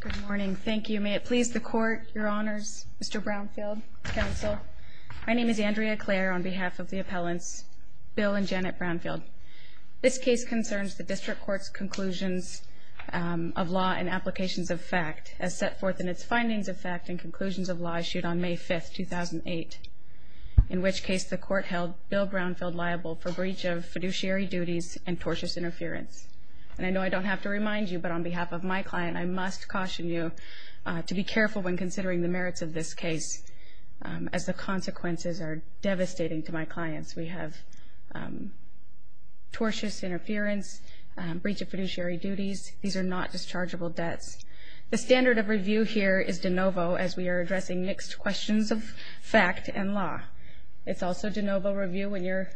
Good morning. Thank you. May it please the Court, Your Honors, Mr. Brownfield, Counsel. My name is Andrea Clare on behalf of the Appellants Bill and Janet Brownfield. This case concerns the District Court's conclusions of law and applications of fact, as set forth in its Findings of Fact and Conclusions of Law Issued on May 5, 2008, in which case the Court held Bill Brownfield liable for breach of fiduciary duties and tortious interference. And I know I don't have to remind you, but on behalf of my client, I must caution you to be careful when considering the merits of this case, as the consequences are devastating to my clients. We have tortious interference, breach of fiduciary duties. These are not dischargeable debts. The standard of review here is de novo, as we are addressing mixed questions of fact and law. It's also de novo review when you're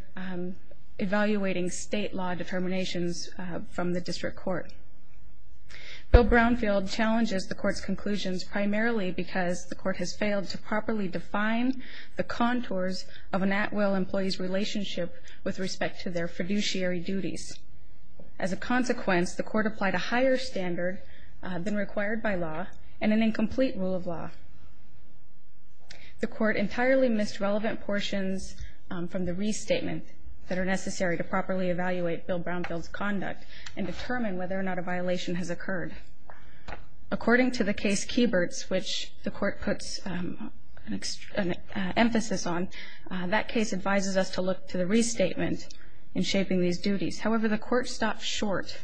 evaluating state law determinations from the District Court. Bill Brownfield challenges the Court's conclusions primarily because the Court has failed to properly define the contours of an at-will employee's relationship with respect to their fiduciary duties. As a consequence, the Court applied a higher standard than required by law and an incomplete rule of law. The Court entirely missed relevant portions from the restatement that are necessary to properly evaluate Bill Brownfield's conduct and determine whether or not a violation has occurred. According to the case Kieberts, which the Court puts an emphasis on, that case advises us to look to the restatement in shaping these duties. However, the Court stopped short.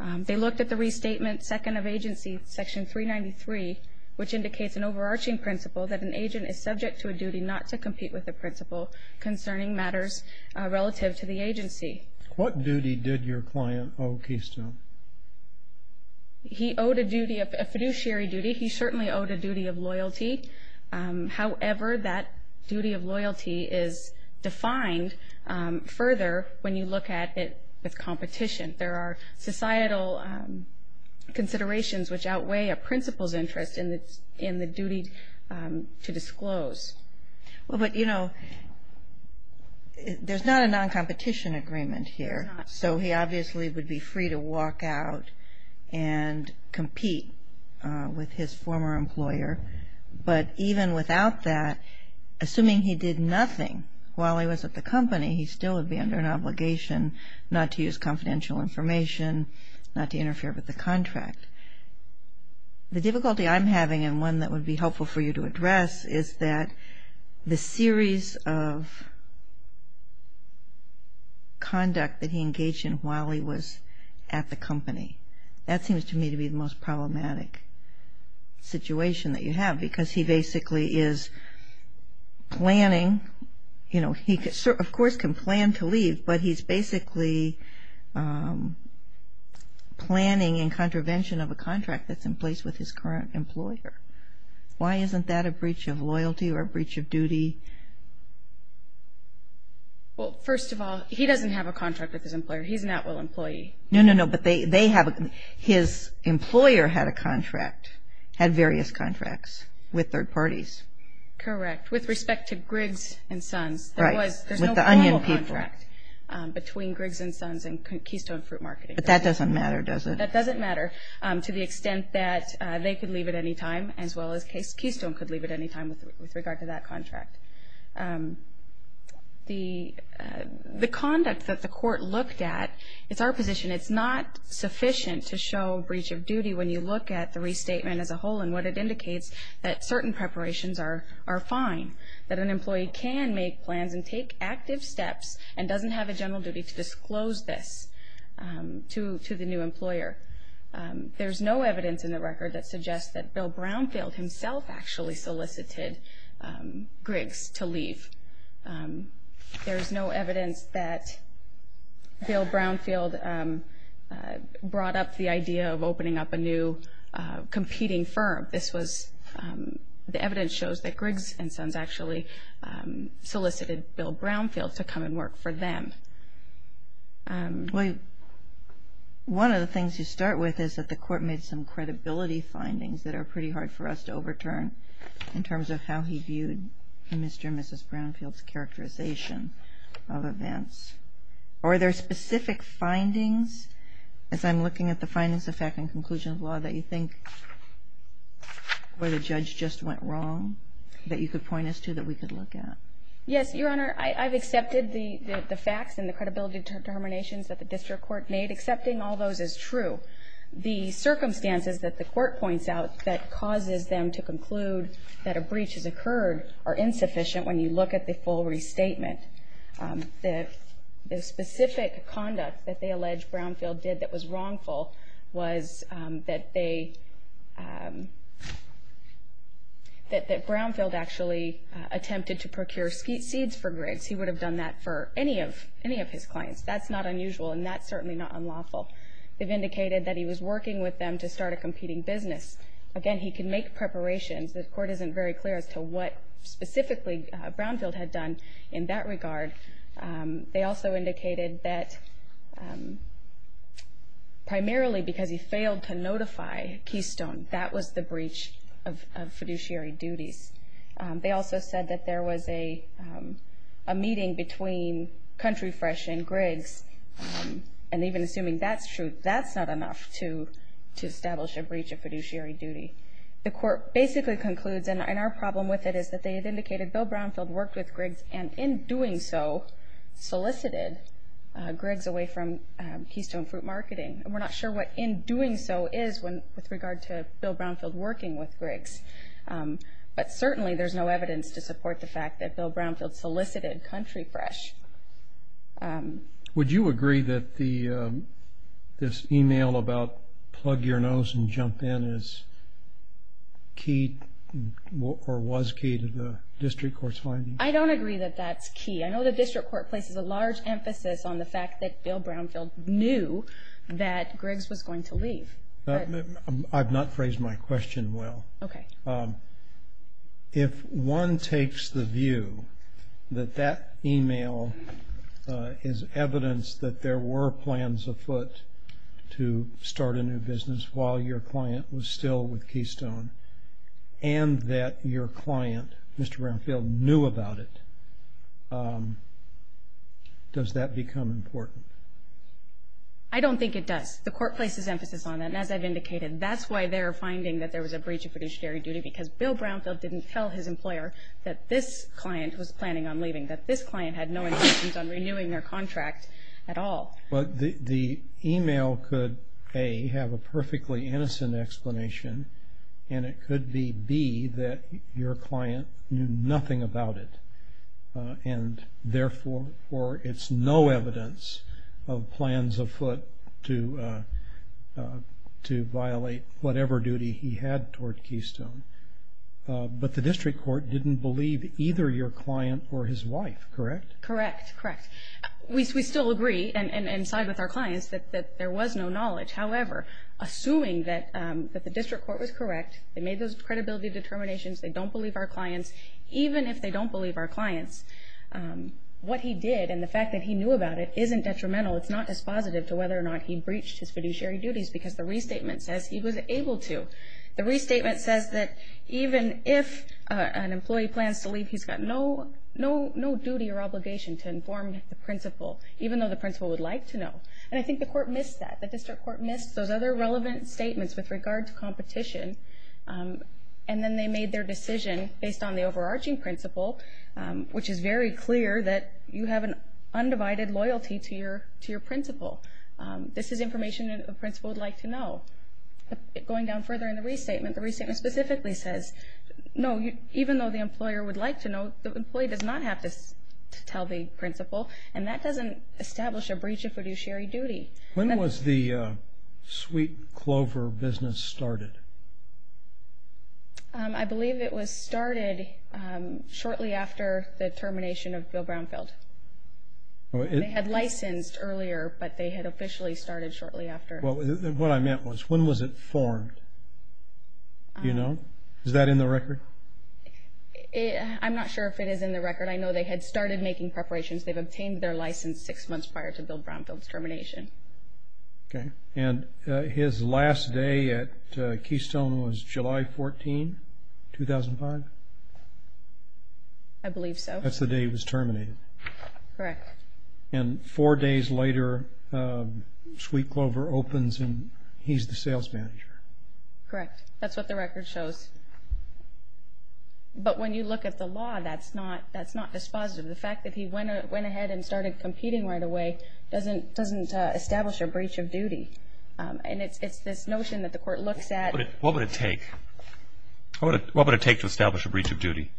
They looked at the restatement second of agency, section 393, which indicates an overarching principle that an agent is subject to a duty not to compete with the principle concerning matters relative to the agency. What duty did your client owe Keystone? He owed a fiduciary duty. He certainly owed a duty of loyalty. However, that duty of loyalty is defined further when you look at it with competition. There are societal considerations which outweigh a principal's interest in the duty to disclose. Well, but, you know, there's not a non-competition agreement here. So he obviously would be free to walk out and compete with his former employer. But even without that, assuming he did nothing while he was at the company, he still would be under an obligation not to use confidential information, not to interfere with the contract. The difficulty I'm having, and one that would be helpful for you to address, is that the series of conduct that he engaged in while he was at the company. That seems to me to be the most problematic situation that you have, because he basically is planning, you know, he of course can plan to leave, but he's basically planning in contravention of a contract that's in place with his current employer. Why isn't that a breach of loyalty or a breach of duty? Well, first of all, he doesn't have a contract with his employer. He's an at-will employee. No, no, no, but his employer had a contract, had various contracts with third parties. Correct, with respect to Griggs and Sons. Right, with the Onion people. There's no formal contract between Griggs and Sons and Keystone Fruit Marketing. But that doesn't matter, does it? That doesn't matter to the extent that they could leave at any time, as well as Keystone could leave at any time with regard to that contract. The conduct that the court looked at, it's our position, it's not sufficient to show breach of duty when you look at the restatement as a whole and what it indicates that certain preparations are fine, that an employee can make plans and take active steps and doesn't have a general duty to disclose this to the new employer. There's no evidence in the record that suggests that Bill Brownfield himself actually solicited Griggs to leave. There's no evidence that Bill Brownfield brought up the idea of opening up a new competing firm. This was, the evidence shows that Griggs and Sons actually solicited Bill Brownfield to come and work for them. Well, one of the things you start with is that the court made some credibility findings that are pretty hard for us to overturn in terms of how he viewed Mr. and Mrs. Brownfield's characterization of events. Are there specific findings, as I'm looking at the findings of fact and conclusion of law, that you think where the judge just went wrong that you could point us to that we could look at? Yes, Your Honor, I've accepted the facts and the credibility determinations that the district court made. Accepting all those is true. The circumstances that the court points out that causes them to conclude that a breach has occurred are insufficient when you look at the full restatement. The specific conduct that they allege Brownfield did that was wrongful was that they, that Brownfield actually attempted to procure seeds for Griggs. He would have done that for any of his clients. That's not unusual, and that's certainly not unlawful. They've indicated that he was working with them to start a competing business. Again, he could make preparations. The court isn't very clear as to what specifically Brownfield had done in that regard. They also indicated that primarily because he failed to notify Keystone, that was the breach of fiduciary duties. They also said that there was a meeting between Country Fresh and Griggs, and even assuming that's true, that's not enough to establish a breach of fiduciary duty. The court basically concludes, and our problem with it is that they had indicated that Bill Brownfield worked with Griggs and in doing so solicited Griggs away from Keystone Fruit Marketing. We're not sure what in doing so is with regard to Bill Brownfield working with Griggs, but certainly there's no evidence to support the fact that Bill Brownfield solicited Country Fresh. Would you agree that this email about plug your nose and jump in is key or was key to the district court's finding? I don't agree that that's key. I know the district court places a large emphasis on the fact that Bill Brownfield knew that Griggs was going to leave. I've not phrased my question well. If one takes the view that that email is evidence that there were plans afoot to start a new business while your client was still with Keystone and that your client, Mr. Brownfield, knew about it, does that become important? I don't think it does. The court places emphasis on that, and as I've indicated, that's why they're finding that there was a breach of fiduciary duty because Bill Brownfield didn't tell his employer that this client was planning on leaving, that this client had no intentions on renewing their contract at all. But the email could, A, have a perfectly innocent explanation, and it could be, B, that your client knew nothing about it, and therefore it's no evidence of plans afoot to violate whatever duty he had toward Keystone. But the district court didn't believe either your client or his wife, correct? Correct. We still agree and side with our clients that there was no knowledge. However, assuming that the district court was correct, they made those credibility determinations, they don't believe our clients, even if they don't believe our clients, what he did and the fact that he knew about it isn't detrimental. It's not dispositive to whether or not he breached his fiduciary duties because the restatement says he was able to. The restatement says that even if an employee plans to leave, he's got no duty or obligation to inform the principal, even though the principal would like to know. And I think the court missed that. The district court missed those other relevant statements with regard to competition, and then they made their decision based on the overarching principle, which is very clear that you have an undivided loyalty to your principal. This is information the principal would like to know. Going down further in the restatement, the restatement specifically says, no, even though the employer would like to know, the employee does not have to tell the principal, and that doesn't establish a breach of fiduciary duty. When was the Sweet Clover business started? I believe it was started shortly after the termination of Bill Brownfield. They had licensed earlier, but they had officially started shortly after. What I meant was, when was it formed? Do you know? Is that in the record? I'm not sure if it is in the record. I know they had started making preparations. They've obtained their license six months prior to Bill Brownfield's termination. Okay. And his last day at Keystone was July 14, 2005? I believe so. That's the day he was terminated. Correct. And four days later, Sweet Clover opens, and he's the sales manager. Correct. That's what the record shows. But when you look at the law, that's not dispositive. The fact that he went ahead and started competing right away doesn't establish a breach of duty. And it's this notion that the court looks at. What would it take? What would it take to establish a breach of duty?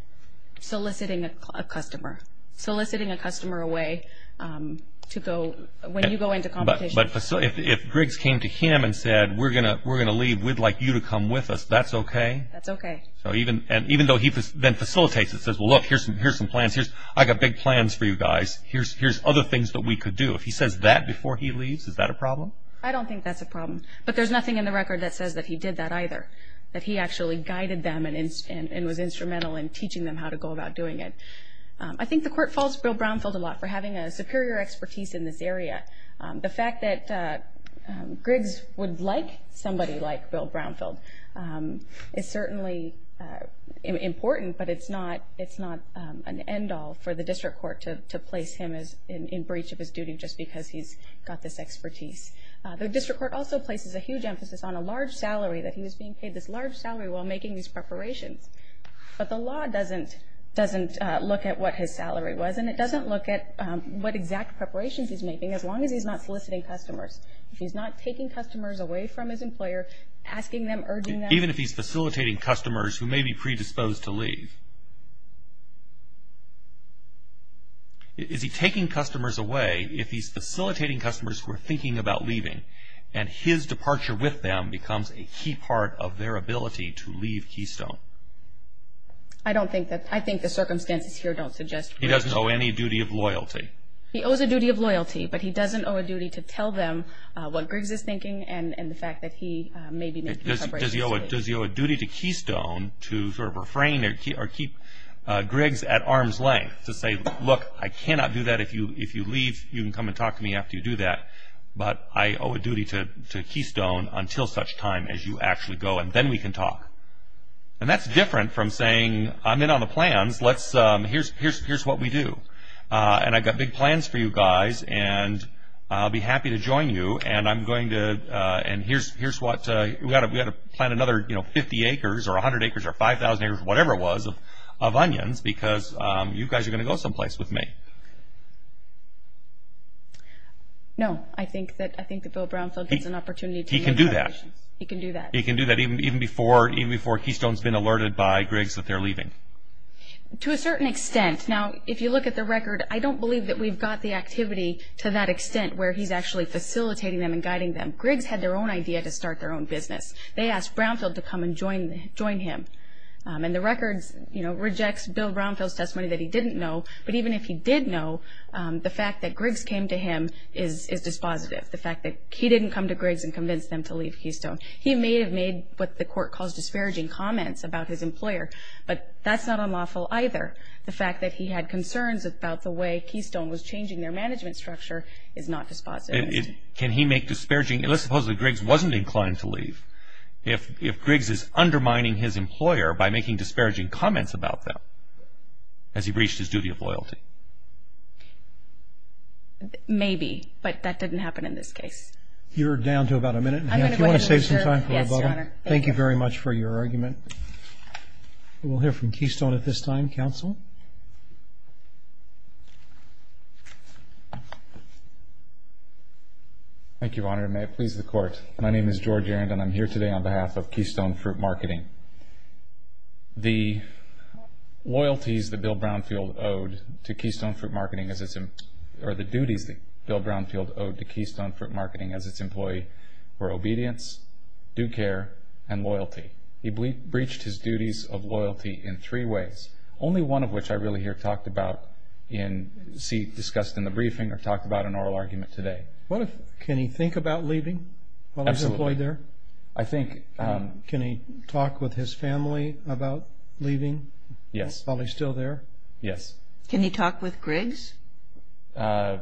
Soliciting a customer. Soliciting a customer away when you go into competition. But if Griggs came to him and said, we're going to leave, we'd like you to come with us, that's okay? That's okay. Even though he then facilitates it, says, well, look, here's some plans. I've got big plans for you guys. Here's other things that we could do. If he says that before he leaves, is that a problem? I don't think that's a problem. But there's nothing in the record that says that he did that either, that he actually guided them and was instrumental in teaching them how to go about doing it. I think the court faults Bill Brownfield a lot for having a superior expertise in this area. The fact that Griggs would like somebody like Bill Brownfield is certainly important, but it's not an end-all for the district court to place him in breach of his duty just because he's got this expertise. The district court also places a huge emphasis on a large salary, that he was being paid this large salary while making these preparations. But the law doesn't look at what his salary was, and it doesn't look at what exact preparations he's making as long as he's not soliciting customers. If he's not taking customers away from his employer, asking them, urging them. Even if he's facilitating customers who may be predisposed to leave. Is he taking customers away if he's facilitating customers who are thinking about leaving, and his departure with them becomes a key part of their ability to leave Keystone? I don't think that, I think the circumstances here don't suggest that. He doesn't owe any duty of loyalty? He owes a duty of loyalty, but he doesn't owe a duty to tell them what Griggs is thinking, and the fact that he may be making preparations to leave. Does he owe a duty to Keystone to refrain or keep Griggs at arm's length to say, look, I cannot do that if you leave, you can come and talk to me after you do that. But I owe a duty to Keystone until such time as you actually go, and then we can talk. And that's different from saying, I'm in on the plans, here's what we do. And I've got big plans for you guys, and I'll be happy to join you, and here's what, we've got to plant another 50 acres, or 100 acres, or 5,000 acres, whatever it was of onions, because you guys are going to go someplace with me. No, I think that Bill Brownfield gets an opportunity to look at the conditions. He can do that. He can do that. But even before Keystone's been alerted by Griggs that they're leaving? To a certain extent. Now, if you look at the record, I don't believe that we've got the activity to that extent where he's actually facilitating them and guiding them. Griggs had their own idea to start their own business. They asked Brownfield to come and join him. And the record rejects Bill Brownfield's testimony that he didn't know, but even if he did know, the fact that Griggs came to him is dispositive, the fact that he didn't come to Griggs and convince them to leave Keystone. He may have made what the court calls disparaging comments about his employer, but that's not unlawful either. The fact that he had concerns about the way Keystone was changing their management structure is not dispositive. Can he make disparaging, unless supposedly Griggs wasn't inclined to leave, if Griggs is undermining his employer by making disparaging comments about them as he breached his duty of loyalty? Maybe, but that didn't happen in this case. You're down to about a minute. Do you want to save some time for a bubble? Yes, Your Honor. Thank you very much for your argument. We'll hear from Keystone at this time. Counsel? Thank you, Your Honor, and may it please the Court. My name is George Arend, and I'm here today on behalf of Keystone Fruit Marketing. The loyalties that Bill Brownfield owed to Keystone Fruit Marketing, or the duties that Bill Brownfield owed to Keystone Fruit Marketing as its employee were obedience, due care, and loyalty. He breached his duties of loyalty in three ways, only one of which I really hear talked about, discussed in the briefing, or talked about in oral argument today. Can he think about leaving while he's employed there? Absolutely. Can he talk with his family about leaving while he's still there? Yes. Can he talk with Griggs? He has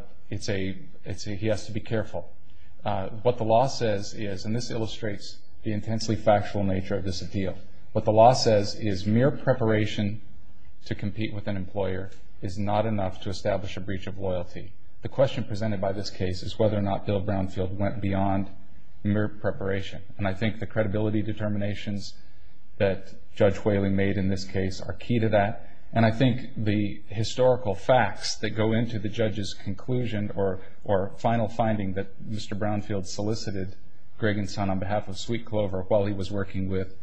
to be careful. What the law says is, and this illustrates the intensely factual nature of this appeal, what the law says is mere preparation to compete with an employer is not enough to establish a breach of loyalty. The question presented by this case is whether or not Bill Brownfield went beyond mere preparation, and I think the credibility determinations that Judge Whaley made in this case are key to that, and I think the historical facts that go into the judge's conclusion or final finding that Mr. Brownfield solicited Greg and Son on behalf of Sweet Clover while he was working with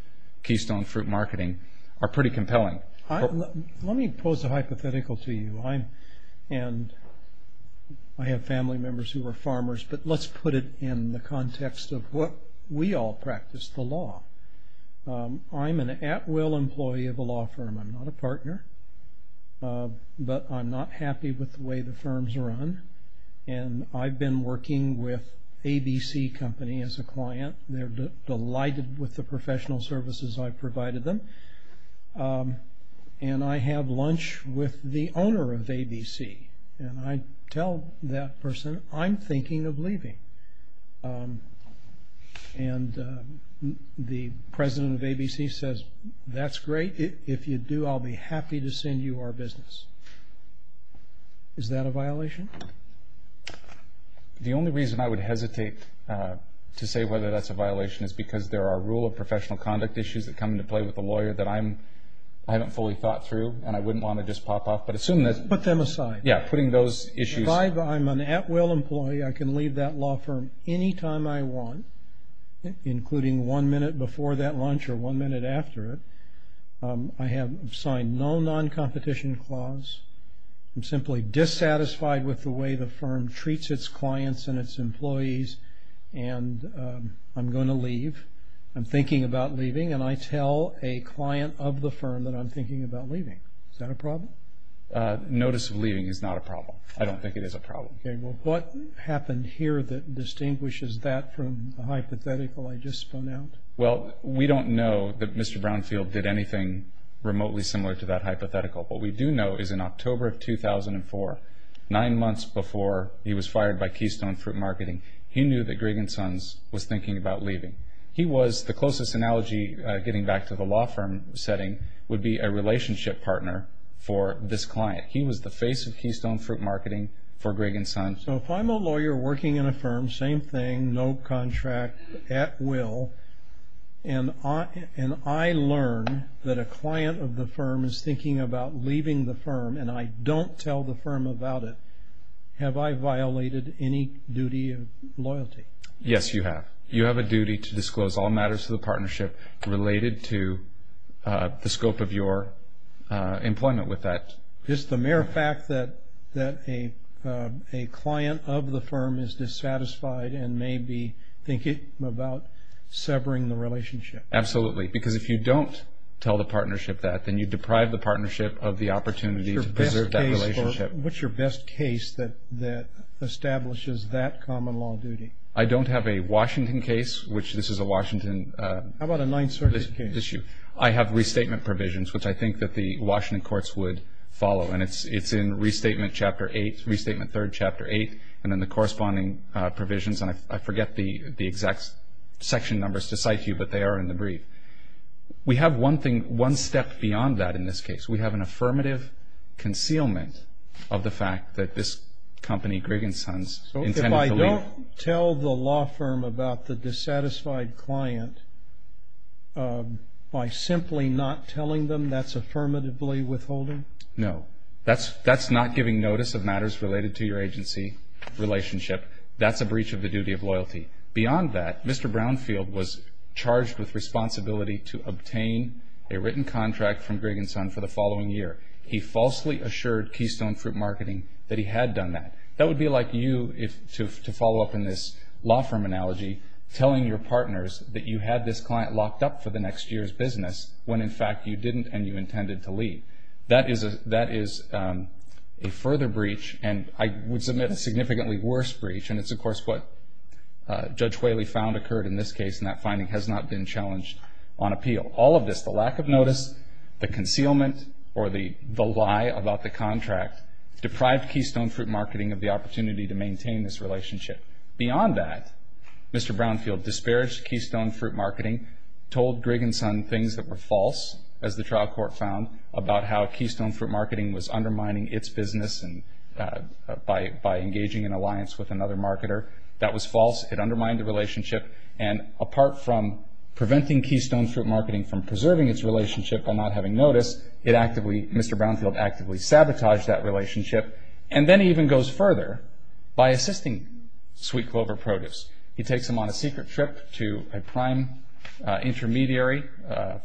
Keystone Fruit Marketing are pretty compelling. Let me pose a hypothetical to you. I have family members who are farmers, but let's put it in the context of what we all practice, the law. I'm an at-will employee of a law firm. I'm not a partner, but I'm not happy with the way the firms run, and I've been working with ABC Company as a client. They're delighted with the professional services I've provided them, and I have lunch with the owner of ABC, and I tell that person, I'm thinking of leaving, and the president of ABC says, That's great. If you do, I'll be happy to send you our business. Is that a violation? The only reason I would hesitate to say whether that's a violation is because there are rule of professional conduct issues that come into play with a lawyer that I haven't fully thought through, and I wouldn't want to just pop off. Put them aside. Yeah, putting those issues aside. I'm an at-will employee. I can leave that law firm any time I want, including one minute before that lunch or one minute after it. I have signed no non-competition clause. I'm simply dissatisfied with the way the firm treats its clients and its employees, and I'm going to leave. I'm thinking about leaving, and I tell a client of the firm that I'm thinking about leaving. Is that a problem? Notice of leaving is not a problem. I don't think it is a problem. Okay, well, what happened here that distinguishes that from the hypothetical I just spun out? Well, we don't know that Mr. Brownfield did anything remotely similar to that hypothetical. What we do know is in October of 2004, nine months before he was fired by Keystone Fruit Marketing, he knew that Gregg & Sons was thinking about leaving. He was, the closest analogy, getting back to the law firm setting, would be a relationship partner for this client. He was the face of Keystone Fruit Marketing for Gregg & Sons. So if I'm a lawyer working in a firm, same thing, no contract, at will, and I learn that a client of the firm is thinking about leaving the firm, and I don't tell the firm about it, have I violated any duty of loyalty? Yes, you have. You have a duty to disclose all matters of the partnership related to the scope of your employment with that. Just the mere fact that a client of the firm is dissatisfied and may be thinking about severing the relationship. Absolutely, because if you don't tell the partnership that, then you deprive the partnership of the opportunity to preserve that relationship. What's your best case that establishes that common law duty? I don't have a Washington case, which this is a Washington issue. How about a Ninth Circuit case? I have restatement provisions, which I think that the Washington courts would follow, and it's in Restatement Chapter 8, Restatement 3, Chapter 8, and then the corresponding provisions, and I forget the exact section numbers to cite you, but they are in the brief. We have one step beyond that in this case. We have an affirmative concealment of the fact that this company, Gregg & Sons, intended to leave. You don't tell the law firm about the dissatisfied client by simply not telling them that's affirmatively withholding? No. That's not giving notice of matters related to your agency relationship. That's a breach of the duty of loyalty. Beyond that, Mr. Brownfield was charged with responsibility to obtain a written contract from Gregg & Sons for the following year. He falsely assured Keystone Fruit Marketing that he had done that. That would be like you, to follow up in this law firm analogy, telling your partners that you had this client locked up for the next year's business when, in fact, you didn't and you intended to leave. That is a further breach, and I would submit a significantly worse breach, and it's, of course, what Judge Whaley found occurred in this case, and that finding has not been challenged on appeal. All of this, the lack of notice, the concealment, or the lie about the contract, deprived Keystone Fruit Marketing of the opportunity to maintain this relationship. Beyond that, Mr. Brownfield disparaged Keystone Fruit Marketing, told Gregg & Sons things that were false, as the trial court found, about how Keystone Fruit Marketing was undermining its business by engaging in alliance with another marketer. That was false. It undermined the relationship, and apart from preventing Keystone Fruit Marketing from preserving its relationship by not having notice, it actively, Mr. Brownfield actively sabotaged that relationship, and then he even goes further by assisting Sweet Clover Produce. He takes them on a secret trip to a prime intermediary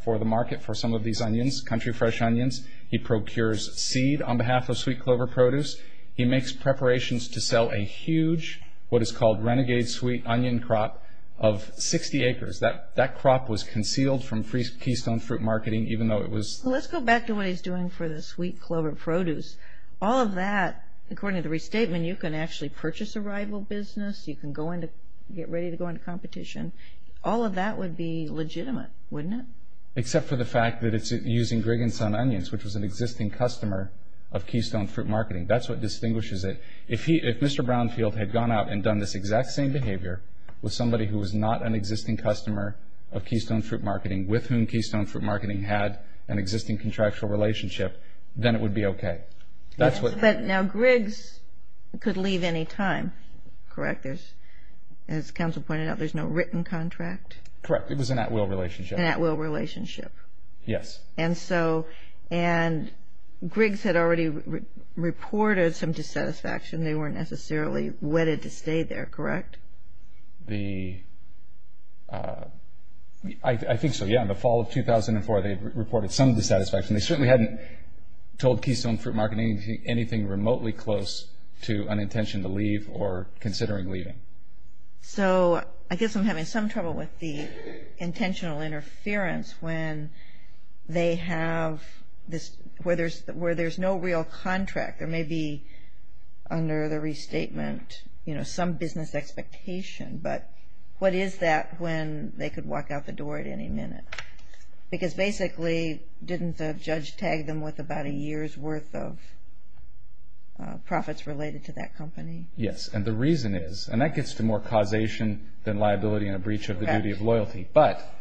for the market for some of these onions, country fresh onions. He procures seed on behalf of Sweet Clover Produce. He makes preparations to sell a huge, what is called renegade sweet onion crop of 60 acres. That crop was concealed from Keystone Fruit Marketing, even though it was Let's go back to what he's doing for the Sweet Clover Produce. All of that, according to the restatement, you can actually purchase a rival business. You can get ready to go into competition. All of that would be legitimate, wouldn't it? Except for the fact that it's using Gregg & Sons Onions, which was an existing customer of Keystone Fruit Marketing. That's what distinguishes it. If Mr. Brownfield had gone out and done this exact same behavior with somebody who was not an existing customer of Keystone Fruit Marketing, with whom Keystone Fruit Marketing had an existing contractual relationship, then it would be okay. But now Gregg's could leave any time, correct? As counsel pointed out, there's no written contract? Correct. It was an at-will relationship. An at-will relationship. Yes. And Gregg's had already reported some dissatisfaction. They weren't necessarily wedded to stay there, correct? I think so, yes. In the fall of 2004, they reported some dissatisfaction. They certainly hadn't told Keystone Fruit Marketing anything remotely close to an intention to leave or considering leaving. So I guess I'm having some trouble with the intentional interference when there's no real contract. There may be under the restatement some business expectation, but what is that when they could walk out the door at any minute? Because basically didn't the judge tag them with about a year's worth of profits related to that company? Yes. And the reason is, and that gets to more causation than liability and a breach of the duty of loyalty. But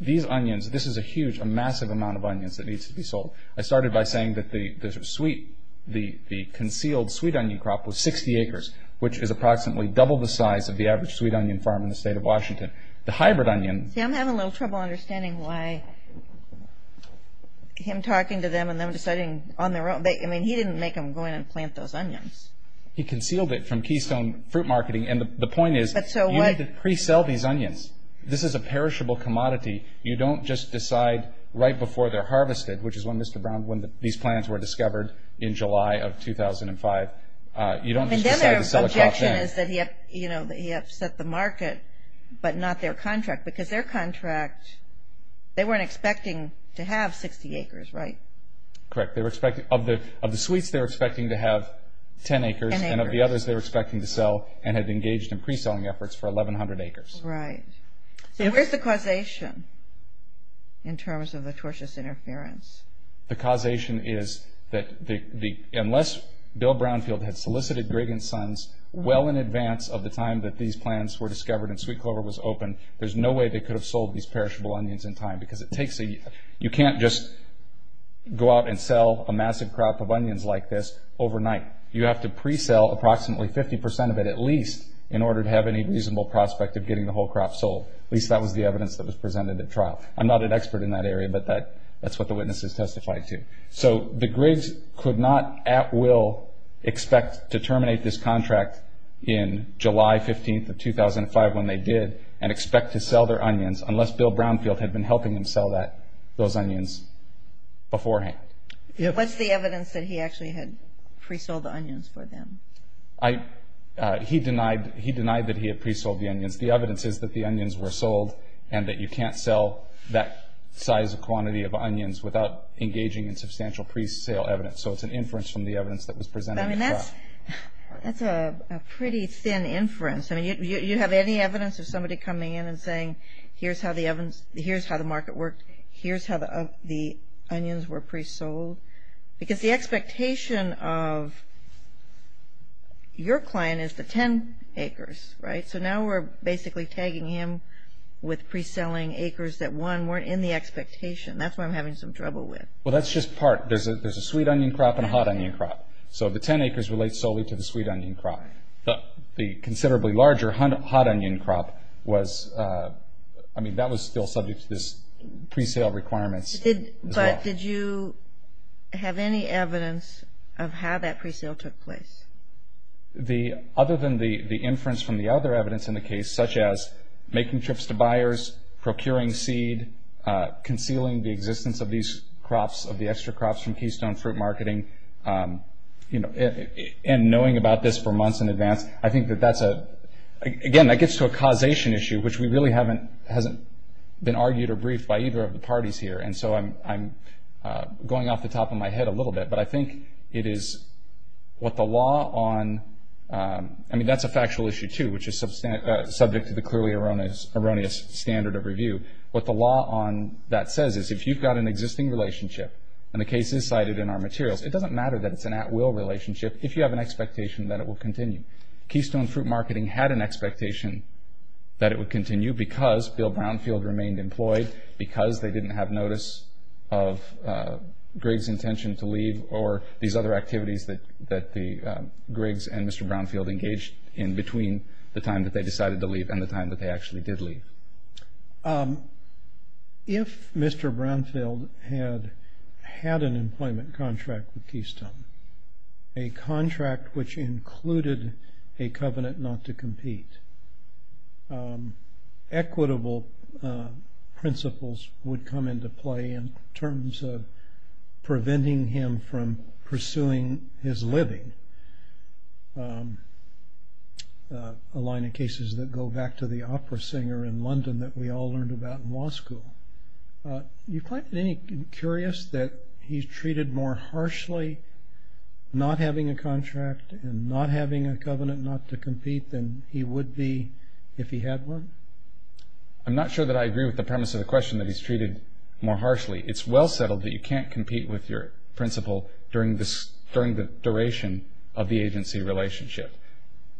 these onions, this is a huge, a massive amount of onions that needs to be sold. I started by saying that the sweet, the concealed sweet onion crop was 60 acres, which is approximately double the size of the average sweet onion farm in the state of Washington. The hybrid onion. See, I'm having a little trouble understanding why him talking to them and them deciding on their own. I mean, he didn't make them go in and plant those onions. He concealed it from Keystone Fruit Marketing. And the point is you need to pre-sell these onions. This is a perishable commodity. You don't just decide right before they're harvested, which is when, Mr. Brown, when these plants were discovered in July of 2005. You don't just decide to sell a crop then. And then their objection is that he upset the market, but not their contract. Because their contract, they weren't expecting to have 60 acres, right? Correct. Of the sweets, they were expecting to have 10 acres, and of the others they were expecting to sell and had engaged in pre-selling efforts for 1,100 acres. Right. So where's the causation in terms of the tortious interference? The causation is that unless Bill Brownfield had solicited Greg and Sons well in advance of the time that these plants were discovered and Sweet Clover was open, there's no way they could have sold these perishable onions in time. Because it takes a year. You can't just go out and sell a massive crop of onions like this overnight. You have to pre-sell approximately 50% of it at least in order to have any reasonable prospect of getting the whole crop sold. At least that was the evidence that was presented at trial. I'm not an expert in that area, but that's what the witnesses testified to. So the Grigs could not at will expect to terminate this contract in July 15th of 2005 when they did and expect to sell their onions unless Bill Brownfield had been helping them sell those onions beforehand. What's the evidence that he actually had pre-sold the onions for them? He denied that he had pre-sold the onions. The evidence is that the onions were sold and that you can't sell that size of quantity of onions without engaging in substantial pre-sale evidence. So it's an inference from the evidence that was presented at trial. That's a pretty thin inference. Do you have any evidence of somebody coming in and saying, here's how the market worked, here's how the onions were pre-sold? Because the expectation of your client is the 10 acres, right? So now we're basically tagging him with pre-selling acres that, one, weren't in the expectation. That's what I'm having some trouble with. Well, that's just part. There's a sweet onion crop and a hot onion crop. So the 10 acres relate solely to the sweet onion crop. The considerably larger hot onion crop was, I mean, that was still subject to pre-sale requirements. But did you have any evidence of how that pre-sale took place? Other than the inference from the other evidence in the case, such as making trips to buyers, procuring seed, concealing the existence of these crops, of the extra crops from Keystone Fruit Marketing, and knowing about this for months in advance, I think that that's a, again, that gets to a causation issue, which we really haven't, hasn't been argued or briefed by either of the parties here. And so I'm going off the top of my head a little bit. But I think it is what the law on, I mean, that's a factual issue, too, which is subject to the clearly erroneous standard of review. What the law on that says is if you've got an existing relationship and the case is cited in our materials, it doesn't matter that it's an at-will relationship if you have an expectation that it will continue. I mean, Keystone Fruit Marketing had an expectation that it would continue because Bill Brownfield remained employed, because they didn't have notice of Griggs' intention to leave, or these other activities that the Griggs and Mr. Brownfield engaged in between the time that they decided to leave and the time that they actually did leave. If Mr. Brownfield had had an employment contract with Keystone, a contract which included a covenant not to compete, equitable principles would come into play in terms of preventing him from pursuing his living. We have a line of cases that go back to the opera singer in London that we all learned about in law school. You find it curious that he's treated more harshly not having a contract and not having a covenant not to compete than he would be if he had one? I'm not sure that I agree with the premise of the question that he's treated more harshly. It's well settled that you can't compete with your principal during the duration of the agency relationship.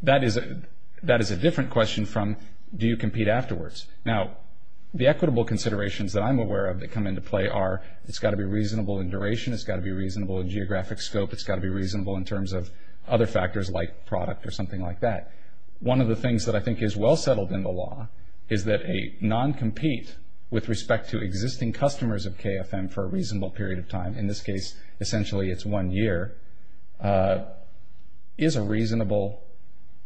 That is a different question from, do you compete afterwards? Now, the equitable considerations that I'm aware of that come into play are, it's got to be reasonable in duration, it's got to be reasonable in geographic scope, it's got to be reasonable in terms of other factors like product or something like that. One of the things that I think is well settled in the law is that a non-compete with respect to existing customers of KFM for a reasonable period of time, in this case essentially it's one year, is a reasonable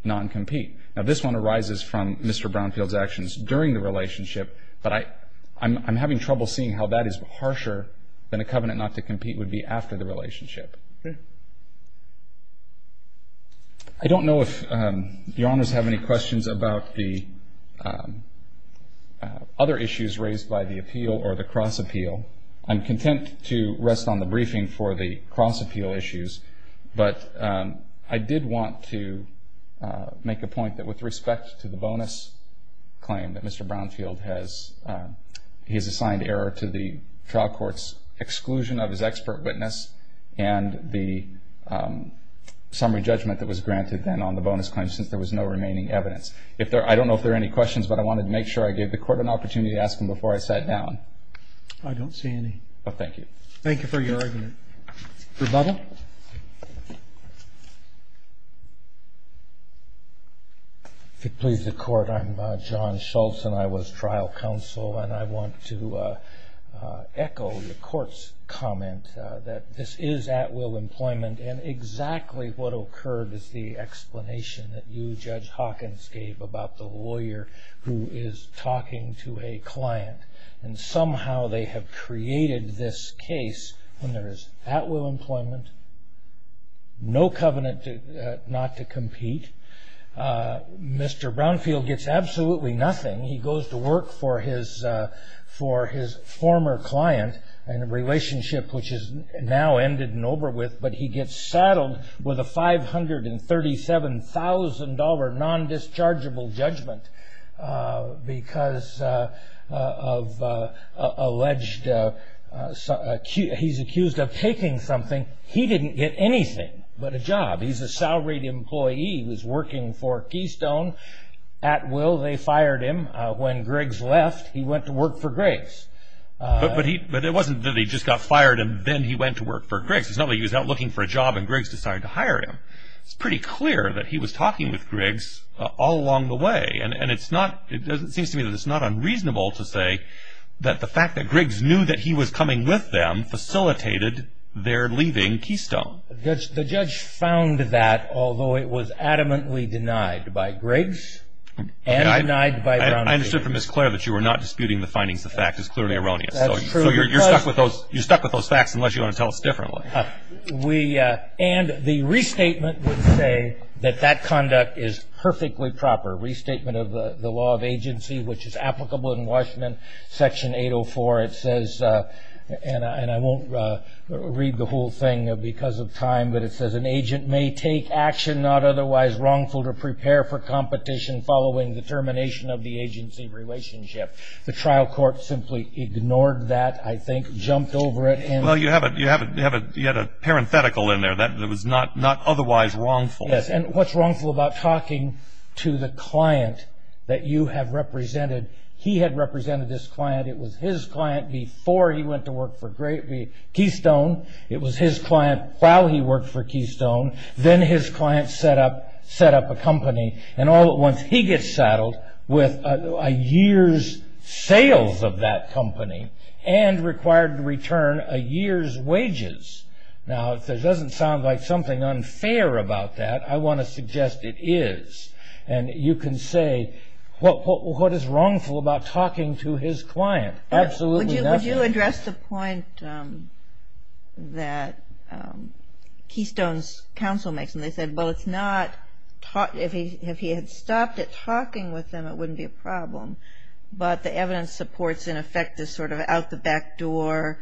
non-compete. Now, this one arises from Mr. Brownfield's actions during the relationship, but I'm having trouble seeing how that is harsher than a covenant not to compete would be after the relationship. I don't know if Your Honors have any questions about the other issues raised by the appeal or the cross-appeal. I'm content to rest on the briefing for the cross-appeal issues, but I did want to make a point that with respect to the bonus claim that Mr. Brownfield has, he's assigned error to the trial court's exclusion of his expert witness, and the summary judgment that was granted then on the bonus claim since there was no remaining evidence. I don't know if there are any questions, but I wanted to make sure I gave the Court an opportunity to ask them before I sat down. I don't see any. Thank you. Thank you for your argument. Rebuttal. If it pleases the Court, I'm John Schultz and I was trial counsel, and I want to echo the Court's comment that this is at-will employment, and exactly what occurred is the explanation that you, Judge Hawkins, gave about the lawyer who is talking to a client, and somehow they have created this case when there is at-will employment, no covenant not to compete. Mr. Brownfield gets absolutely nothing. He goes to work for his former client in a relationship which is now ended and over with, but he gets saddled with a $537,000 non-dischargeable judgment because of alleged – he's accused of taking something. He didn't get anything but a job. He's a salaried employee who's working for Keystone. At-will, they fired him. When Griggs left, he went to work for Griggs. But it wasn't that he just got fired and then he went to work for Griggs. It's not like he was out looking for a job and Griggs decided to hire him. It's pretty clear that he was talking with Griggs all along the way, and it seems to me that it's not unreasonable to say that the fact that Griggs knew that he was coming with them facilitated their leaving Keystone. The judge found that, although it was adamantly denied by Griggs and denied by Brownfield. I understood from Ms. Clare that you were not disputing the findings. The fact is clearly erroneous. That's true. So you're stuck with those facts unless you want to tell us differently. And the restatement would say that that conduct is perfectly proper. Restatement of the law of agency, which is applicable in Washington, Section 804. It says, and I won't read the whole thing because of time, but it says, an agent may take action not otherwise wrongful to prepare for competition following the termination of the agency relationship. The trial court simply ignored that, I think, jumped over it. Well, you had a parenthetical in there that was not otherwise wrongful. Yes, and what's wrongful about talking to the client that you have represented? He had represented this client. It was his client before he went to work for Keystone. It was his client while he worked for Keystone. Then his client set up a company. And all at once, he gets saddled with a year's sales of that company and required to return a year's wages. Now, if this doesn't sound like something unfair about that, I want to suggest it is. And you can say, what is wrongful about talking to his client? Absolutely nothing. Would you address the point that Keystone's counsel makes? And they said, well, if he had stopped at talking with them, it wouldn't be a problem. But the evidence supports, in effect, this sort of out-the-back-door-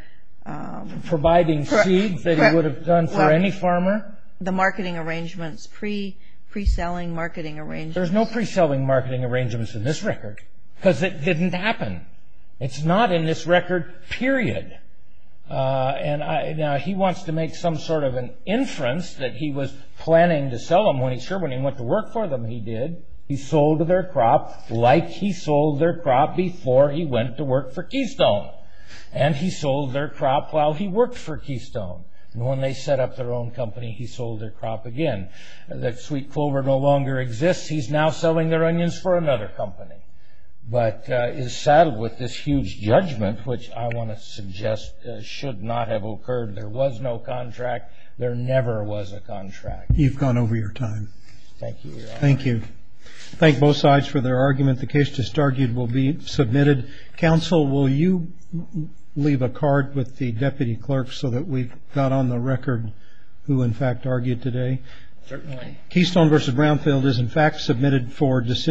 The marketing arrangements, pre-selling marketing arrangements. There's no pre-selling marketing arrangements in this record because it didn't happen. It's not in this record, period. Now, he wants to make some sort of an inference that he was planning to sell them when he went to work for them. He did. He sold their crop like he sold their crop before he went to work for Keystone. And he sold their crop while he worked for Keystone. And when they set up their own company, he sold their crop again. The sweet clover no longer exists. He's now selling their onions for another company, but is saddled with this huge judgment, which I want to suggest should not have occurred. There was no contract. There never was a contract. You've gone over your time. Thank you, Your Honor. Thank both sides for their argument. The case just argued will be submitted. Counsel, will you leave a card with the deputy clerk so that we've got on the record who, in fact, argued today? Certainly. Keystone v. Brownfield is, in fact, submitted for decision.